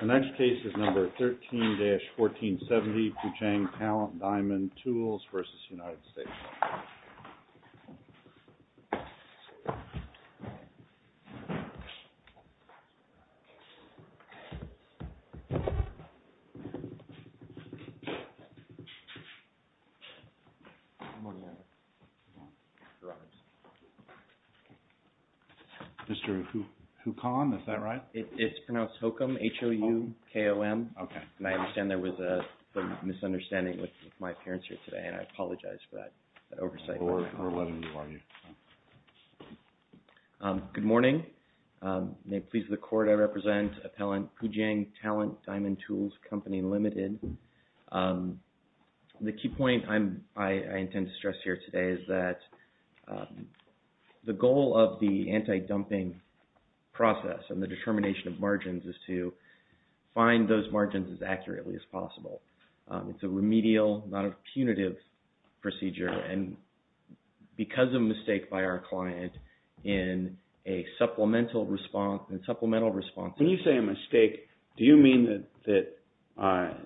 The next case is number 13-1470, Puchang Talent Diamond Tools v. United States. Mr. Hukom, is that right? It's pronounced Hukom, H-O-U-K-O-M. Okay. And I understand there was some misunderstanding with my appearance here today and I apologize for that oversight. Good morning. May it please the Court, I represent Appellant Puchang Talent Diamond Tools, Company Limited. The key point I intend to stress here today is that the goal of the anti-dumping process and the determination of margins is to find those margins as accurately as possible. It's a remedial, not a punitive procedure and because of mistake by our client in a supplemental response... When you say a mistake, do you mean that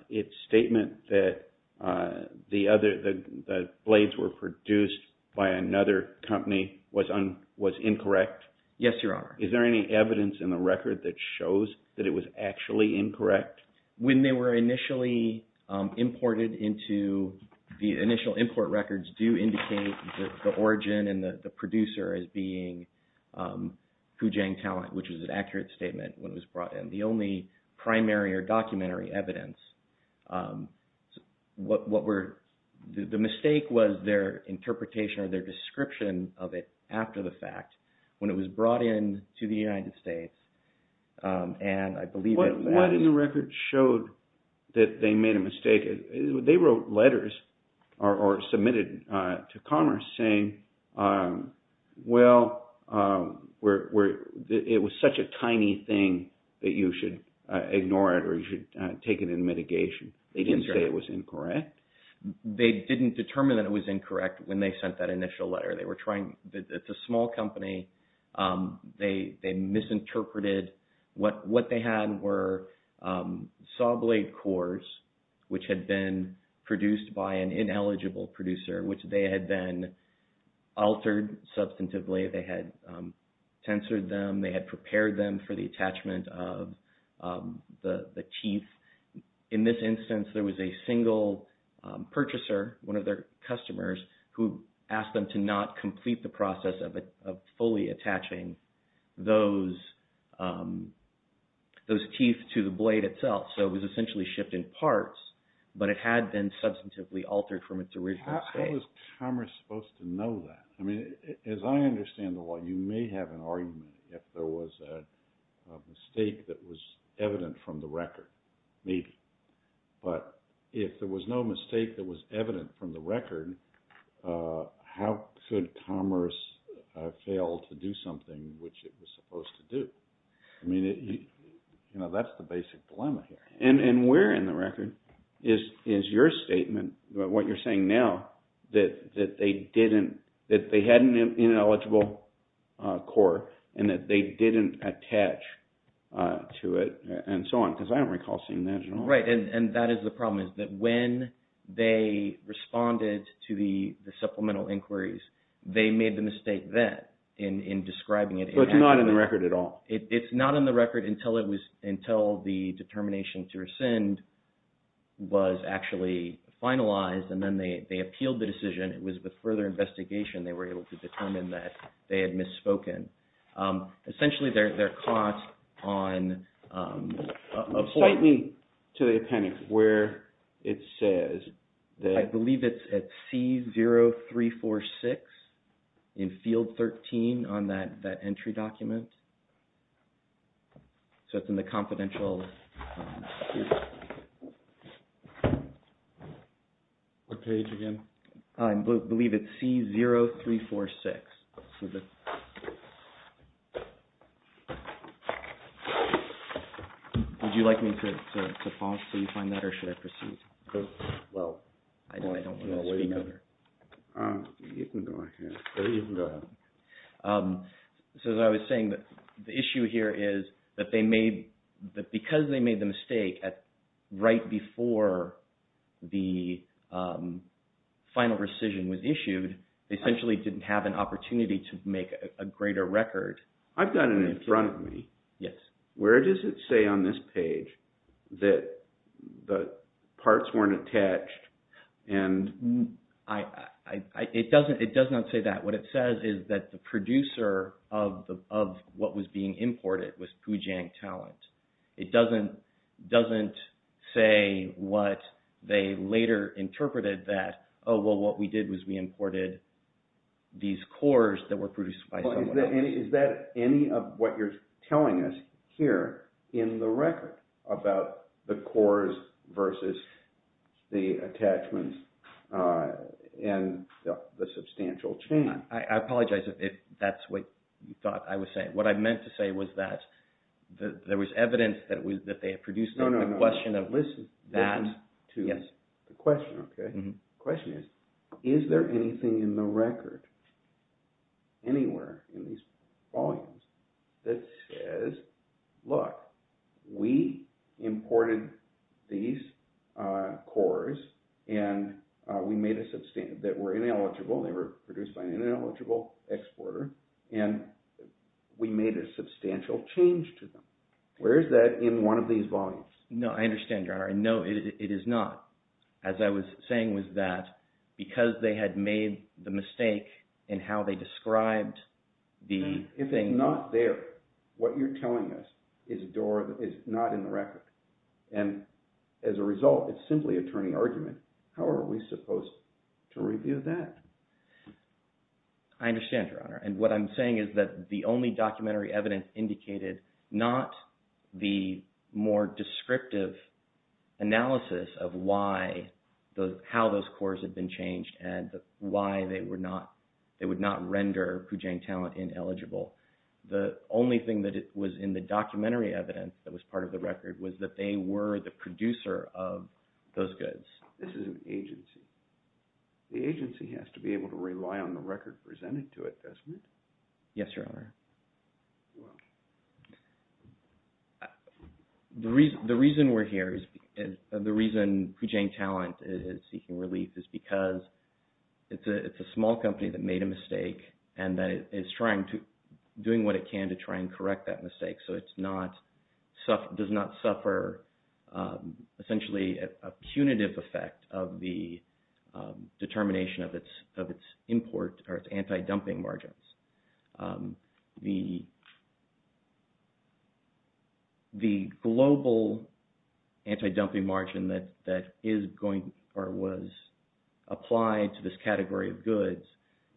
it's statement that the blades were produced by another company was incorrect? Yes, Your Honor. Is there any evidence in the record that shows that it was actually incorrect? When they were initially imported into the initial import records do indicate the origin and the producer as being Puchang Talent, which is an accurate statement when it was brought in. The only primary or documentary evidence, the mistake was their interpretation or their description of it after the fact when it was brought in to the United States and I believe... What in the record showed that they made a mistake? They wrote letters or submitted to Commerce saying, well, it was such a tiny thing that you should ignore it or you should take it in mitigation. They didn't say it was incorrect? They didn't determine that it was incorrect when they sent that initial letter. It's a small company. They misinterpreted. What they had were saw blade cores, which had been produced by an ineligible producer, which they had then altered substantively. They had tensored them. They had prepared them for the attachment of the teeth. In this instance, there was a single purchaser, one of their customers, who asked them to not complete the process of fully attaching those teeth to the blade itself. So it was essentially shifting parts, but it had been substantively altered from its original state. How was Commerce supposed to know that? As I understand the law, you may have an argument if there was a mistake that was evident from the record. Maybe. But if there was no mistake that was evident from the record, how could Commerce fail to do something which it was supposed to do? That's the basic dilemma here. And where in the record is your statement, what you're saying now, that they had an ineligible core and that they didn't attach to it and so on? Because I don't recall seeing that at all. Right, and that is the problem is that when they responded to the supplemental inquiries, they made the mistake then in describing it. So it's not in the record at all. It's not in the record until the determination to rescind was actually finalized and then they appealed the decision. It was with further investigation they were able to determine that they had misspoken. Essentially, they're caught on a point. Cite me to the appendix where it says that. I believe it's at C0346 in field 13 on that entry document. So it's in the confidential. What page again? I believe it's C0346. Would you like me to falsify that or should I proceed? Well. I don't want to speak on it. You can go ahead. So as I was saying, the issue here is that because they made the mistake right before the final rescission was issued, they essentially didn't have an opportunity to make a greater record. I've got it in front of me. Yes. Where does it say on this page that the parts weren't attached? It does not say that. What it says is that the producer of what was being imported was Poojang Talent. It doesn't say what they later interpreted that, oh, well, what we did was we imported these cores that were produced by someone else. Is that any of what you're telling us here in the record about the cores versus the attachments and the substantial chain? I apologize if that's what you thought I was saying. What I meant to say was that there was evidence that they had produced something. No, no, no. The question of that. Listen. Yes. The question, okay. The question is, is there anything in the record anywhere in these volumes that says, look, we imported these cores and we made a – that were ineligible. They were produced by an ineligible exporter, and we made a substantial change to them. Where is that in one of these volumes? No, I understand, John. No, it is not. As I was saying was that because they had made the mistake in how they described the thing. If they're not there, what you're telling us is not in the record, and as a result, it's simply a turning argument. How are we supposed to review that? I understand, Your Honor. And what I'm saying is that the only documentary evidence indicated not the more descriptive analysis of why – how those cores had been changed and why they were not – they would not render Poojang Talent ineligible. The only thing that was in the documentary evidence that was part of the record was that they were the producer of those goods. This is an agency. The agency has to be able to rely on the record presented to it, doesn't it? Yes, Your Honor. The reason we're here is – the reason Poojang Talent is seeking relief is because it's a small company that made a mistake, and that it's trying to – doing what it can to try and correct that mistake so it's not – does not suffer essentially a punitive effect of the determination of its import or its anti-dumping margins. The global anti-dumping margin that is going – or was applied to this category of goods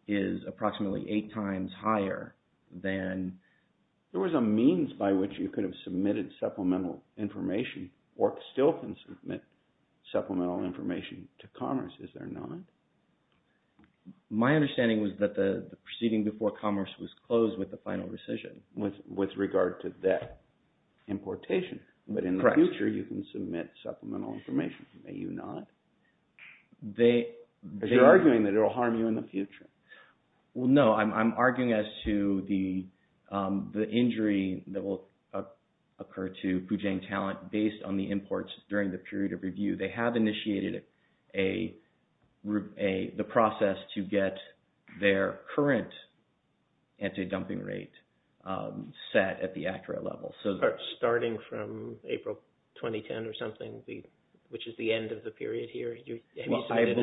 is approximately eight times higher than – There was a means by which you could have submitted supplemental information or still can submit supplemental information to Congress, is there not? My understanding was that the proceeding before Congress was closed with the final rescission. With regard to that importation. Correct. But in the future, you can submit supplemental information. May you not? They – Because you're arguing that it will harm you in the future. Well, no. I'm arguing as to the injury that will occur to Poojang Talent based on the imports during the period of review. They have initiated a – the process to get their current anti-dumping rate set at the accurate level. Starting from April 2010 or something, which is the end of the period here, have you submitted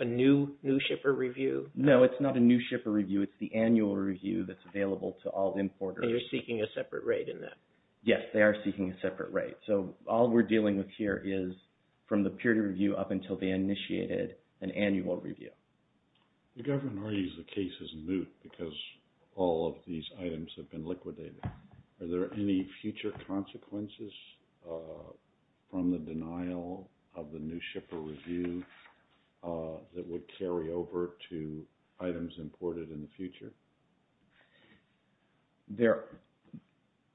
a new shipper review? No, it's not a new shipper review. It's the annual review that's available to all importers. And you're seeking a separate rate in that? Yes, they are seeking a separate rate. So all we're dealing with here is from the period of review up until they initiated an annual review. The government argues the case is moot because all of these items have been liquidated. Are there any future consequences from the denial of the new shipper review that would carry over to items imported in the future?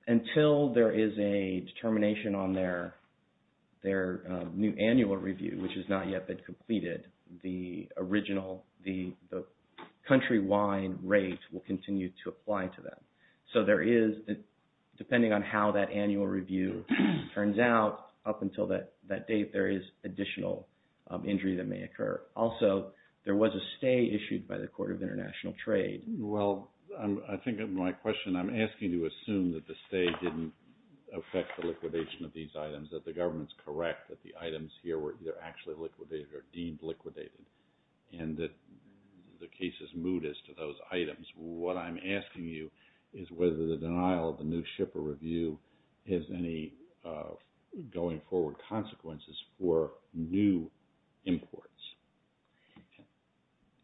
Until there is a determination on their new annual review, which has not yet been completed, the original – the country-wide rate will continue to apply to them. So there is – depending on how that annual review turns out, up until that date, there is additional injury that may occur. Also, there was a stay issued by the Court of International Trade. Well, I think in my question, I'm asking you to assume that the stay didn't affect the liquidation of these items, that the government's correct, that the items here were either actually liquidated or deemed liquidated, and that the case is moot as to those items. What I'm asking you is whether the denial of the new shipper review has any going forward consequences for new imports.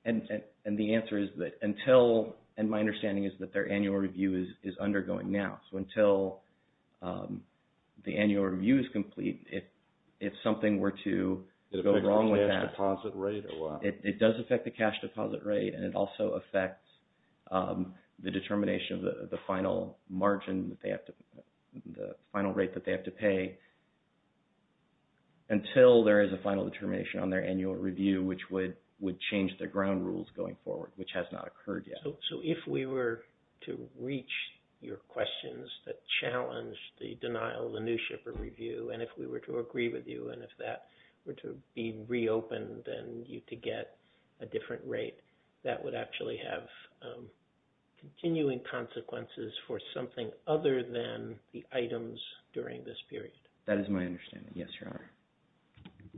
And the answer is that until – and my understanding is that their annual review is undergoing now. So until the annual review is complete, if something were to go wrong with that – It affects the cash deposit rate or what? It does affect the cash deposit rate, and it also affects the determination of the final margin that they have to – the final rate that they have to pay until there is a final determination on their annual review, which would change their ground rules going forward, which has not occurred yet. So if we were to reach your questions that challenge the denial of the new shipper review, and if we were to agree with you and if that were to be reopened and you could get a different rate, that would actually have continuing consequences for something other than the items during this period. That is my understanding. Yes, Your Honor.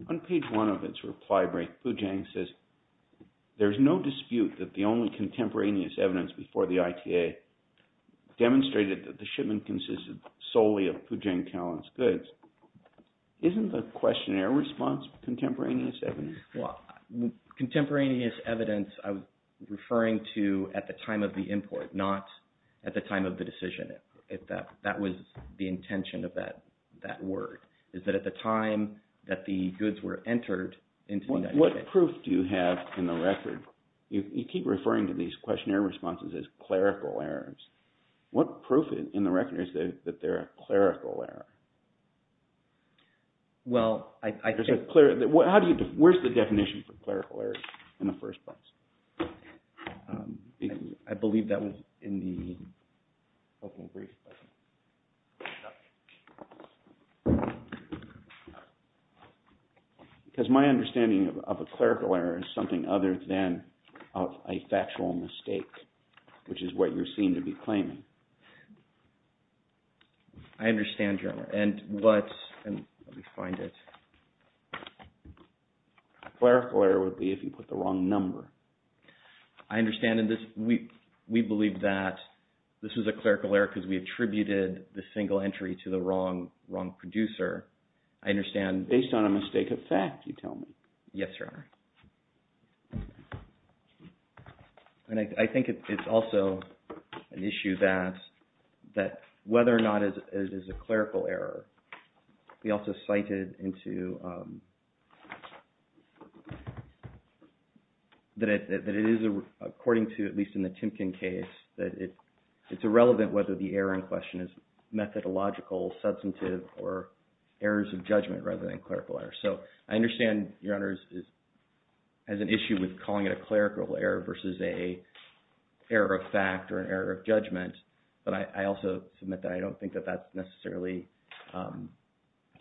On page one of its reply break, Poojang says, there is no dispute that the only contemporaneous evidence before the ITA demonstrated that the shipment consisted solely of Poojang Callan's goods. Isn't the questionnaire response contemporaneous evidence? Well, contemporaneous evidence I was referring to at the time of the import, not at the time of the decision. That was the intention of that word, is that at the time that the goods were entered into the United States. What proof do you have in the record? You keep referring to these questionnaire responses as clerical errors. What proof in the record is that they're a clerical error? Well, I think – Where's the definition for clerical error in the first place? I believe that was in the opening brief. Because my understanding of a clerical error is something other than a factual mistake, which is what you seem to be claiming. I understand, Your Honor. And what – let me find it. A clerical error would be if you put the wrong number. I understand in this – we believe that this is a clerical error because we attributed the single entry to the wrong producer. I understand – Based on a mistake of fact, you tell me. Yes, Your Honor. And I think it's also an issue that whether or not it is a clerical error. We also cited into – that it is according to, at least in the Timken case, that it's irrelevant whether the error in question is methodological, substantive, or errors of judgment rather than clerical error. So I understand, Your Honor, as an issue with calling it a clerical error versus an error of fact or an error of judgment. But I also submit that I don't think that that's necessarily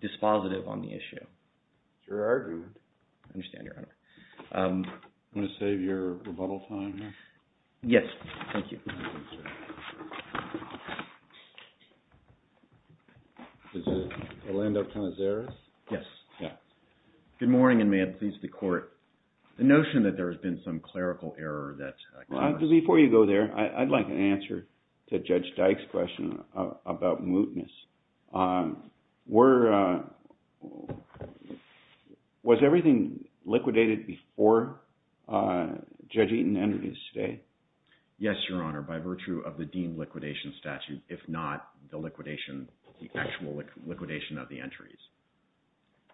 dispositive on the issue. It's your argument. I understand, Your Honor. I'm going to save your rebuttal time here. Yes. Thank you. Is it Orlando Canizares? Yes. Good morning and may it please the Court. The notion that there has been some clerical error that – Before you go there, I'd like an answer to Judge Dyke's question about mootness. Were – was everything liquidated before Judge Eaton entered his stay? Yes, Your Honor. By virtue of the deemed liquidation statute, if not the liquidation – the actual liquidation of the entries.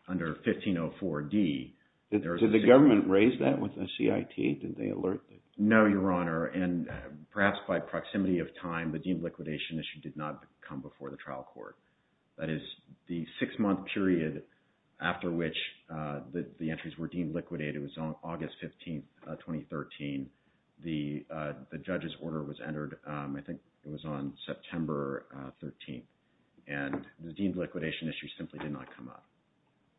Under 1504D, there is a – Did the government raise that with the CIT? Did they alert the – No, Your Honor. And perhaps by proximity of time, the deemed liquidation issue did not come before the trial court. That is, the six-month period after which the entries were deemed liquidated was on August 15th, 2013. The judge's order was entered, I think it was on September 13th. And the deemed liquidation issue simply did not come up.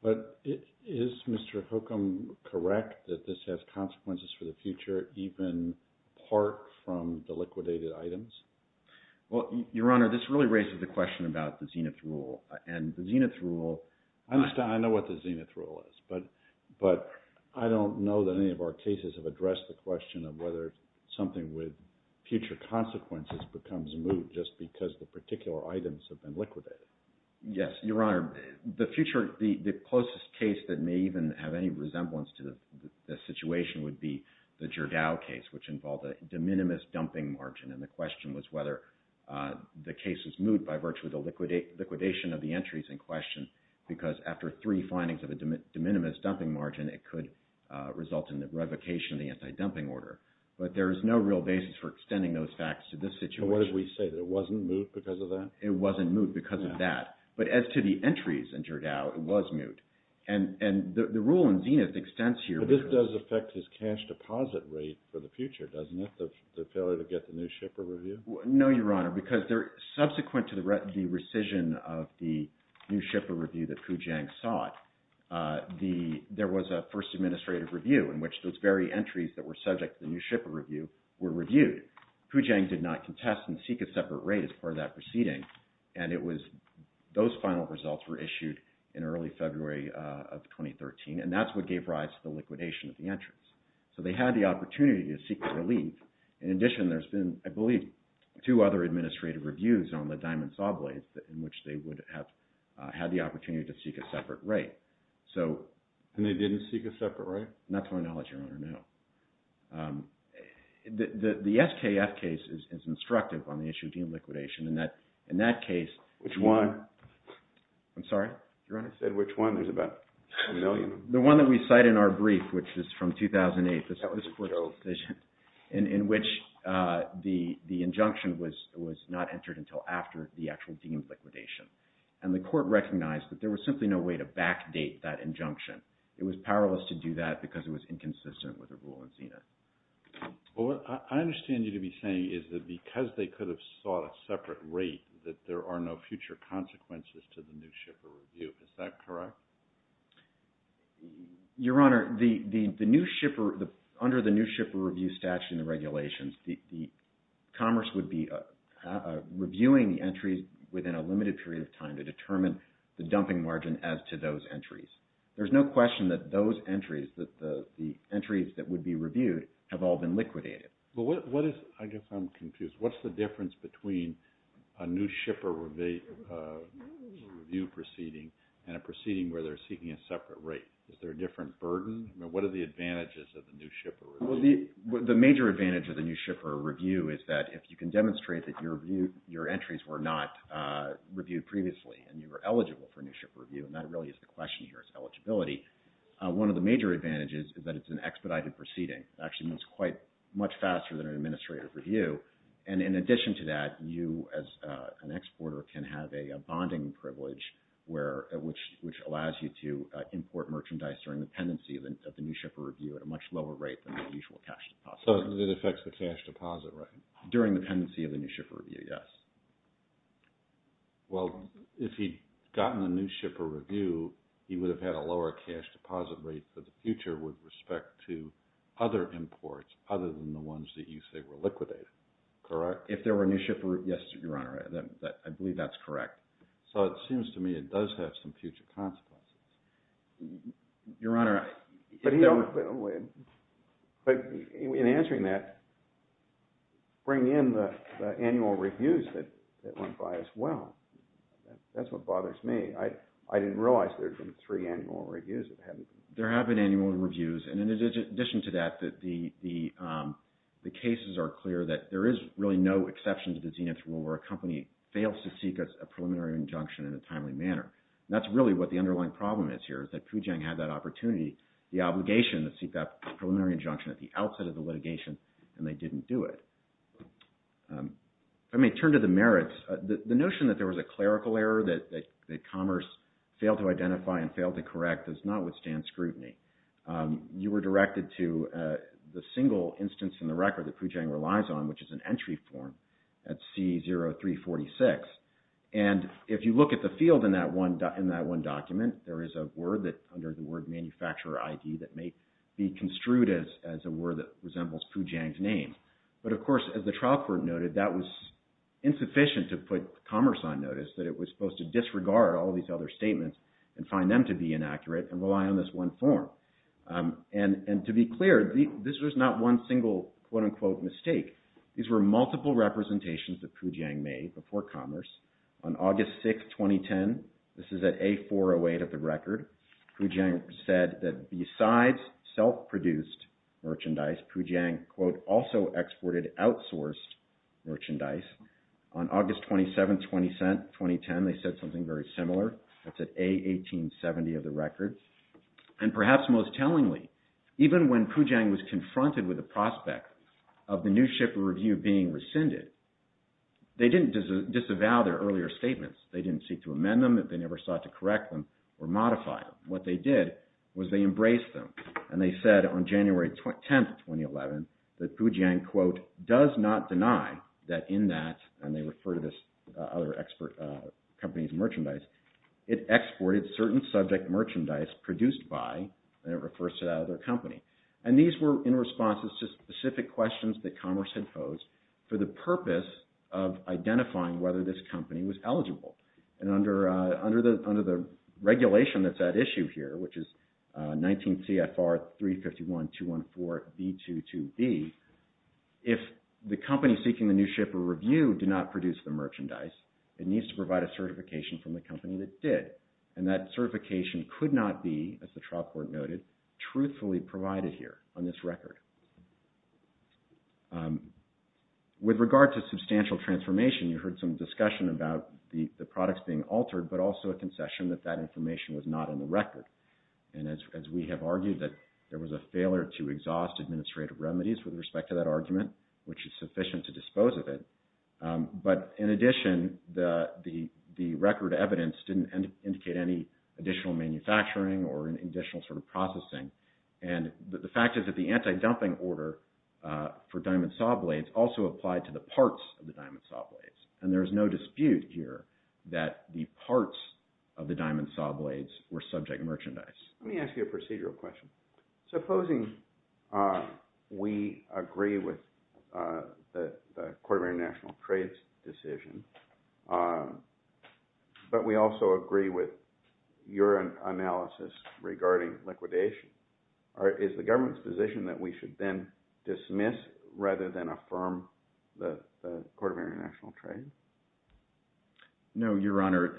But is Mr. Hookum correct that this has consequences for the future even apart from the liquidated items? Well, Your Honor, this really raises the question about the Zenith Rule. And the Zenith Rule – I understand. I know what the Zenith Rule is. But I don't know that any of our cases have addressed the question of whether something with future consequences becomes moot just because the particular items have been liquidated. Yes, Your Honor. The closest case that may even have any resemblance to the situation would be the Gerdau case, which involved a de minimis dumping margin. And the question was whether the case was moot by virtue of the liquidation of the entries in question, because after three findings of a de minimis dumping margin, it could result in the revocation of the anti-dumping order. But there is no real basis for extending those facts to this situation. But what if we say that it wasn't moot because of that? It wasn't moot because of that. But as to the entries in Gerdau, it was moot. And the rule in Zenith extends here – But this does affect his cash deposit rate for the future, doesn't it, the failure to get the New Shipper Review? No, Your Honor, because subsequent to the rescission of the New Shipper Review that Poojang sought, there was a first administrative review in which those very entries that were subject to the New Shipper Review were reviewed. Poojang did not contest and seek a separate rate as part of that proceeding. And it was – those final results were issued in early February of 2013, and that's what gave rise to the liquidation of the entries. So they had the opportunity to seek a relief. In addition, there's been, I believe, two other administrative reviews on the Diamond Sawblaze in which they would have had the opportunity to seek a separate rate. And they didn't seek a separate rate? Not to my knowledge, Your Honor, no. The SKF case is instructive on the issue of deemed liquidation. In that case – Which one? I'm sorry, Your Honor? You said which one. There's about a million. The one that we cite in our brief, which is from 2008. That was a court decision. In which the injunction was not entered until after the actual deemed liquidation. And the court recognized that there was simply no way to backdate that injunction. It was powerless to do that because it was inconsistent with the rule in SENA. Well, what I understand you to be saying is that because they could have sought a separate rate, that there are no future consequences to the New Shipper Review. Is that correct? Your Honor, the New Shipper – under the New Shipper Review statute and the regulations, the Commerce would be reviewing the entries within a limited period of time to determine the dumping margin as to those entries. There's no question that those entries, the entries that would be reviewed, have all been liquidated. But what is – I guess I'm confused. What's the difference between a New Shipper Review proceeding and a proceeding where they're seeking a separate rate? Is there a different burden? I mean, what are the advantages of the New Shipper Review? Well, the major advantage of the New Shipper Review is that if you can demonstrate that your entries were not reviewed previously and you were eligible for New Shipper Review, and that really is the question here is eligibility, one of the major advantages is that it's an expedited proceeding. It actually moves quite – much faster than an administrative review. And in addition to that, you as an exporter can have a bonding privilege where – which allows you to import merchandise during the pendency of the New Shipper Review at a much lower rate than the usual cash deposit rate. So it affects the cash deposit rate? During the pendency of the New Shipper Review, yes. Well, if he'd gotten a New Shipper Review, he would have had a lower cash deposit rate for the future with respect to other imports other than the ones that you say were liquidated, correct? If there were New Shipper – yes, Your Honor. I believe that's correct. So it seems to me it does have some future consequences. Your Honor, in answering that, bring in the annual reviews that went by as well. That's what bothers me. I didn't realize there had been three annual reviews. There have been annual reviews, and in addition to that, the cases are clear that there is really no exception to the Zenith Rule where a company fails to seek a preliminary injunction in a timely manner. That's really what the underlying problem is here is that Poojang had that opportunity, the obligation to seek that preliminary injunction at the outset of the litigation, and they didn't do it. If I may turn to the merits, the notion that there was a clerical error, that commerce failed to identify and failed to correct does not withstand scrutiny. You were directed to the single instance in the record that Poojang relies on, which is an entry form at C0346. And if you look at the field in that one document, there is a word under the word manufacturer ID that may be construed as a word that resembles Poojang's name. But of course, as the trial court noted, that was insufficient to put commerce on notice, that it was supposed to disregard all these other statements and find them to be inaccurate and rely on this one form. And to be clear, this was not one single quote-unquote mistake. These were multiple representations that Poojang made before commerce. On August 6, 2010, this is at A408 of the record, Poojang said that besides self-produced merchandise, Poojang, quote, also exported outsourced merchandise. On August 27, 2010, they said something very similar. That's at A1870 of the record. And perhaps most tellingly, even when Poojang was confronted with the prospect of the new ship of review being rescinded, they didn't disavow their earlier statements. They didn't seek to amend them. They never sought to correct them or modify them. What they did was they embraced them. And they said on January 10, 2011, that Poojang, quote, does not deny that in that, and they refer to this other company's merchandise, it exported certain subject merchandise produced by, and it refers to that other company. And these were in response to specific questions that commerce had posed for the purpose of identifying whether this company was eligible. And under the regulation that's at issue here, which is 19 CFR 351-214-B22B, if the company seeking the new ship of review did not produce the merchandise, it needs to provide a certification from the company that did. And that certification could not be, as the trial court noted, truthfully provided here on this record. With regard to substantial transformation, you heard some discussion about the products being altered, but also a concession that that information was not in the record. And as we have argued that there was a failure to exhaust administrative remedies with respect to that argument, which is sufficient to dispose of it. But in addition, the record evidence didn't indicate any additional manufacturing or an additional sort of processing. And the fact is that the anti-dumping order for diamond saw blades also applied to the parts of the diamond saw blades. And there is no dispute here that the parts of the diamond saw blades were subject merchandise. Let me ask you a procedural question. Supposing we agree with the Court of International Trade's decision, but we also agree with your analysis regarding liquidation. Is the government's position that we should then dismiss rather than affirm the Court of International Trade? No, Your Honor.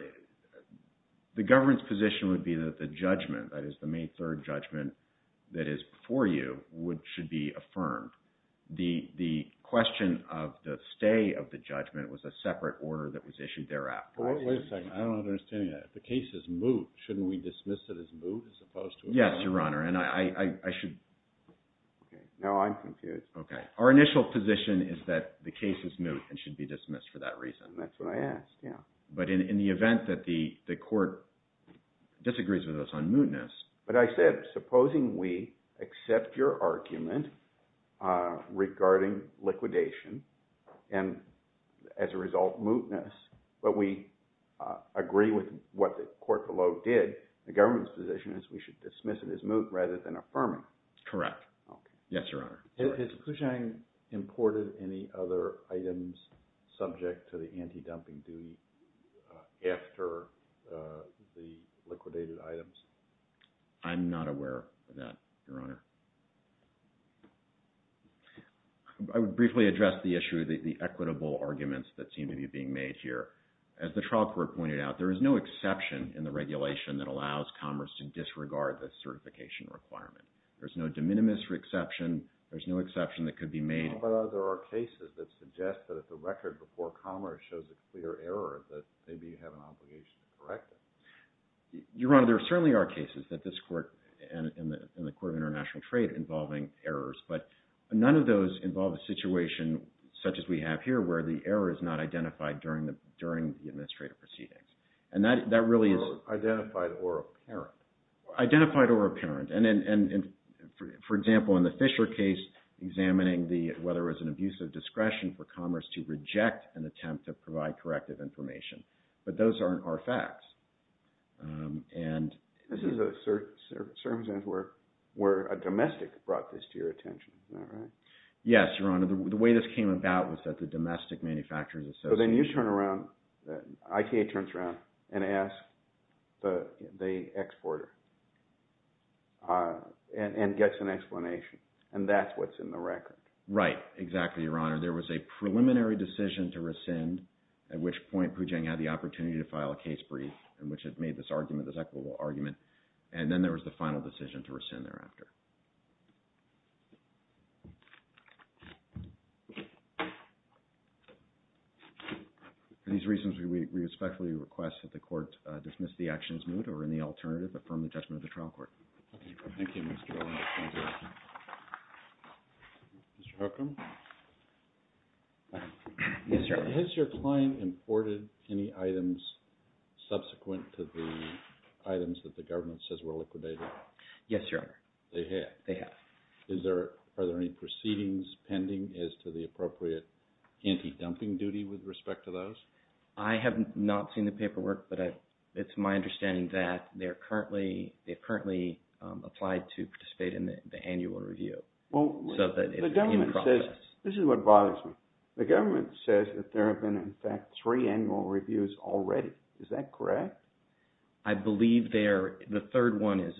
The government's position would be that the judgment, that is the May 3rd judgment that is before you, should be affirmed. The question of the stay of the judgment was a separate order that was issued thereafter. Wait a second. I don't understand that. If the case is moot, shouldn't we dismiss it as moot as opposed to affirming it? Yes, Your Honor. And I should… Okay. Now I'm confused. Okay. Our initial position is that the case is moot and should be dismissed for that reason. That's what I asked, yeah. But in the event that the court disagrees with us on mootness… But I said supposing we accept your argument regarding liquidation and, as a result, mootness, but we agree with what the court below did, the government's position is we should dismiss it as moot rather than affirming it. Correct. Yes, Your Honor. Has Kuchang imported any other items subject to the anti-dumping duty after the liquidated items? I'm not aware of that, Your Honor. I would briefly address the issue of the equitable arguments that seem to be being made here. As the trial court pointed out, there is no exception in the regulation that allows commerce to disregard the certification requirement. There's no de minimis exception. There's no exception that could be made. But there are cases that suggest that if the record before commerce shows a clear error, that maybe you have an obligation to correct it. Your Honor, there certainly are cases that this court and the Court of International Trade involving errors, but none of those involve a situation such as we have here where the error is not identified during the administrative proceedings. And that really is… Identified or apparent. Identified or apparent. And for example, in the Fisher case, examining whether it was an abuse of discretion for commerce to reject an attempt to provide corrective information. But those aren't our facts. This is a circumstance where a domestic brought this to your attention. Is that right? Yes, Your Honor. The way this came about was that the domestic manufacturers… So then you turn around. ITA turns around and asks the exporter and gets an explanation. And that's what's in the record. Right. Exactly, Your Honor. There was a preliminary decision to rescind, at which point Poojang had the opportunity to file a case brief in which it made this argument, this equitable argument. And then there was the final decision to rescind thereafter. For these reasons, we respectfully request that the court dismiss the action as moot or, in the alternative, affirm the judgment of the trial court. Thank you, Mr. O'Loughlin. Mr. Huckam? Yes, Your Honor. Has your client imported any items subsequent to the items that the government says were liquidated? Yes, Your Honor. They have? They have. Are there any proceedings pending as to the appropriate anti-dumping duty with respect to those? I have not seen the paperwork, but it's my understanding that they're currently applied to participate in the annual review. Well, the government says… This is what bothers me. The government says that there have been, in fact, three annual reviews already. Is that correct? I believe the third one is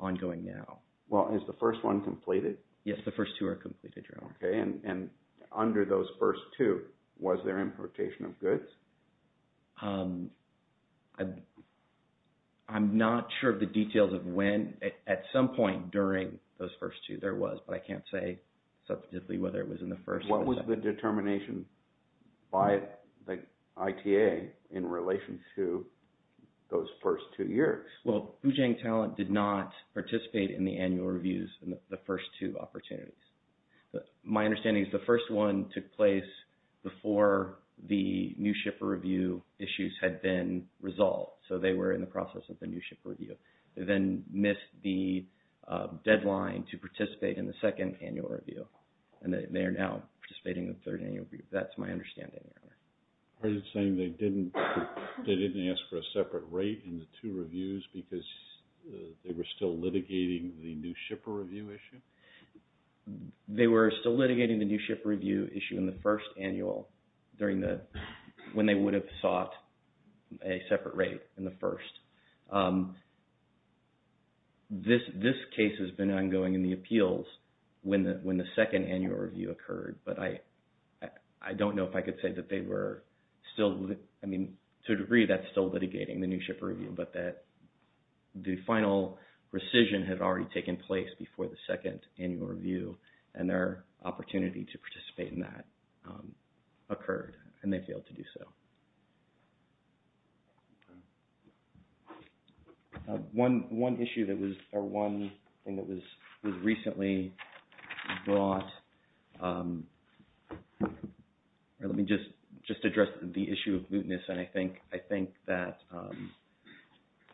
ongoing now. Well, is the first one completed? Yes, the first two are completed, Your Honor. Okay. And under those first two, was there importation of goods? I'm not sure of the details of when. At some point during those first two, there was, but I can't say substantively whether it was in the first or the second. What was the determination by the ITA in relation to those first two years? Well, Boojang Talent did not participate in the annual reviews in the first two opportunities. My understanding is the first one took place before the new shipper review issues had been resolved, so they were in the process of the new ship review. They then missed the deadline to participate in the second annual review, and they are now participating in the third annual review. That's my understanding, Your Honor. Are you saying they didn't ask for a separate rate in the two reviews because they were still litigating the new shipper review issue? They were still litigating the new shipper review issue in the first annual when they would have sought a separate rate in the first. This case has been ongoing in the appeals when the second annual review occurred, but I don't know if I could say that they were still, I mean, to a degree that's still litigating the new shipper review, but that the final rescission had already taken place before the second annual review, and their opportunity to participate in that occurred, and they failed to do so. One issue that was, or one thing that was recently brought, let me just address the issue of mootness, and I think that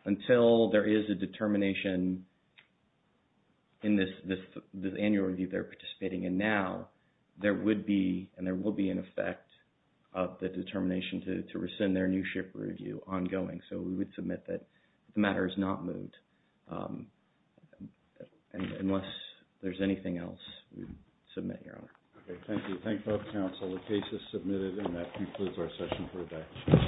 until there is a determination in this annual review they're participating in now, there would be, and there will be an effect of the determination to rescind their new shipper review ongoing, so we would submit that the matter is not moot. Unless there's anything else, we would submit, Your Honor. Okay, thank you. Thank both counsel. The case is submitted, and that concludes our session for today.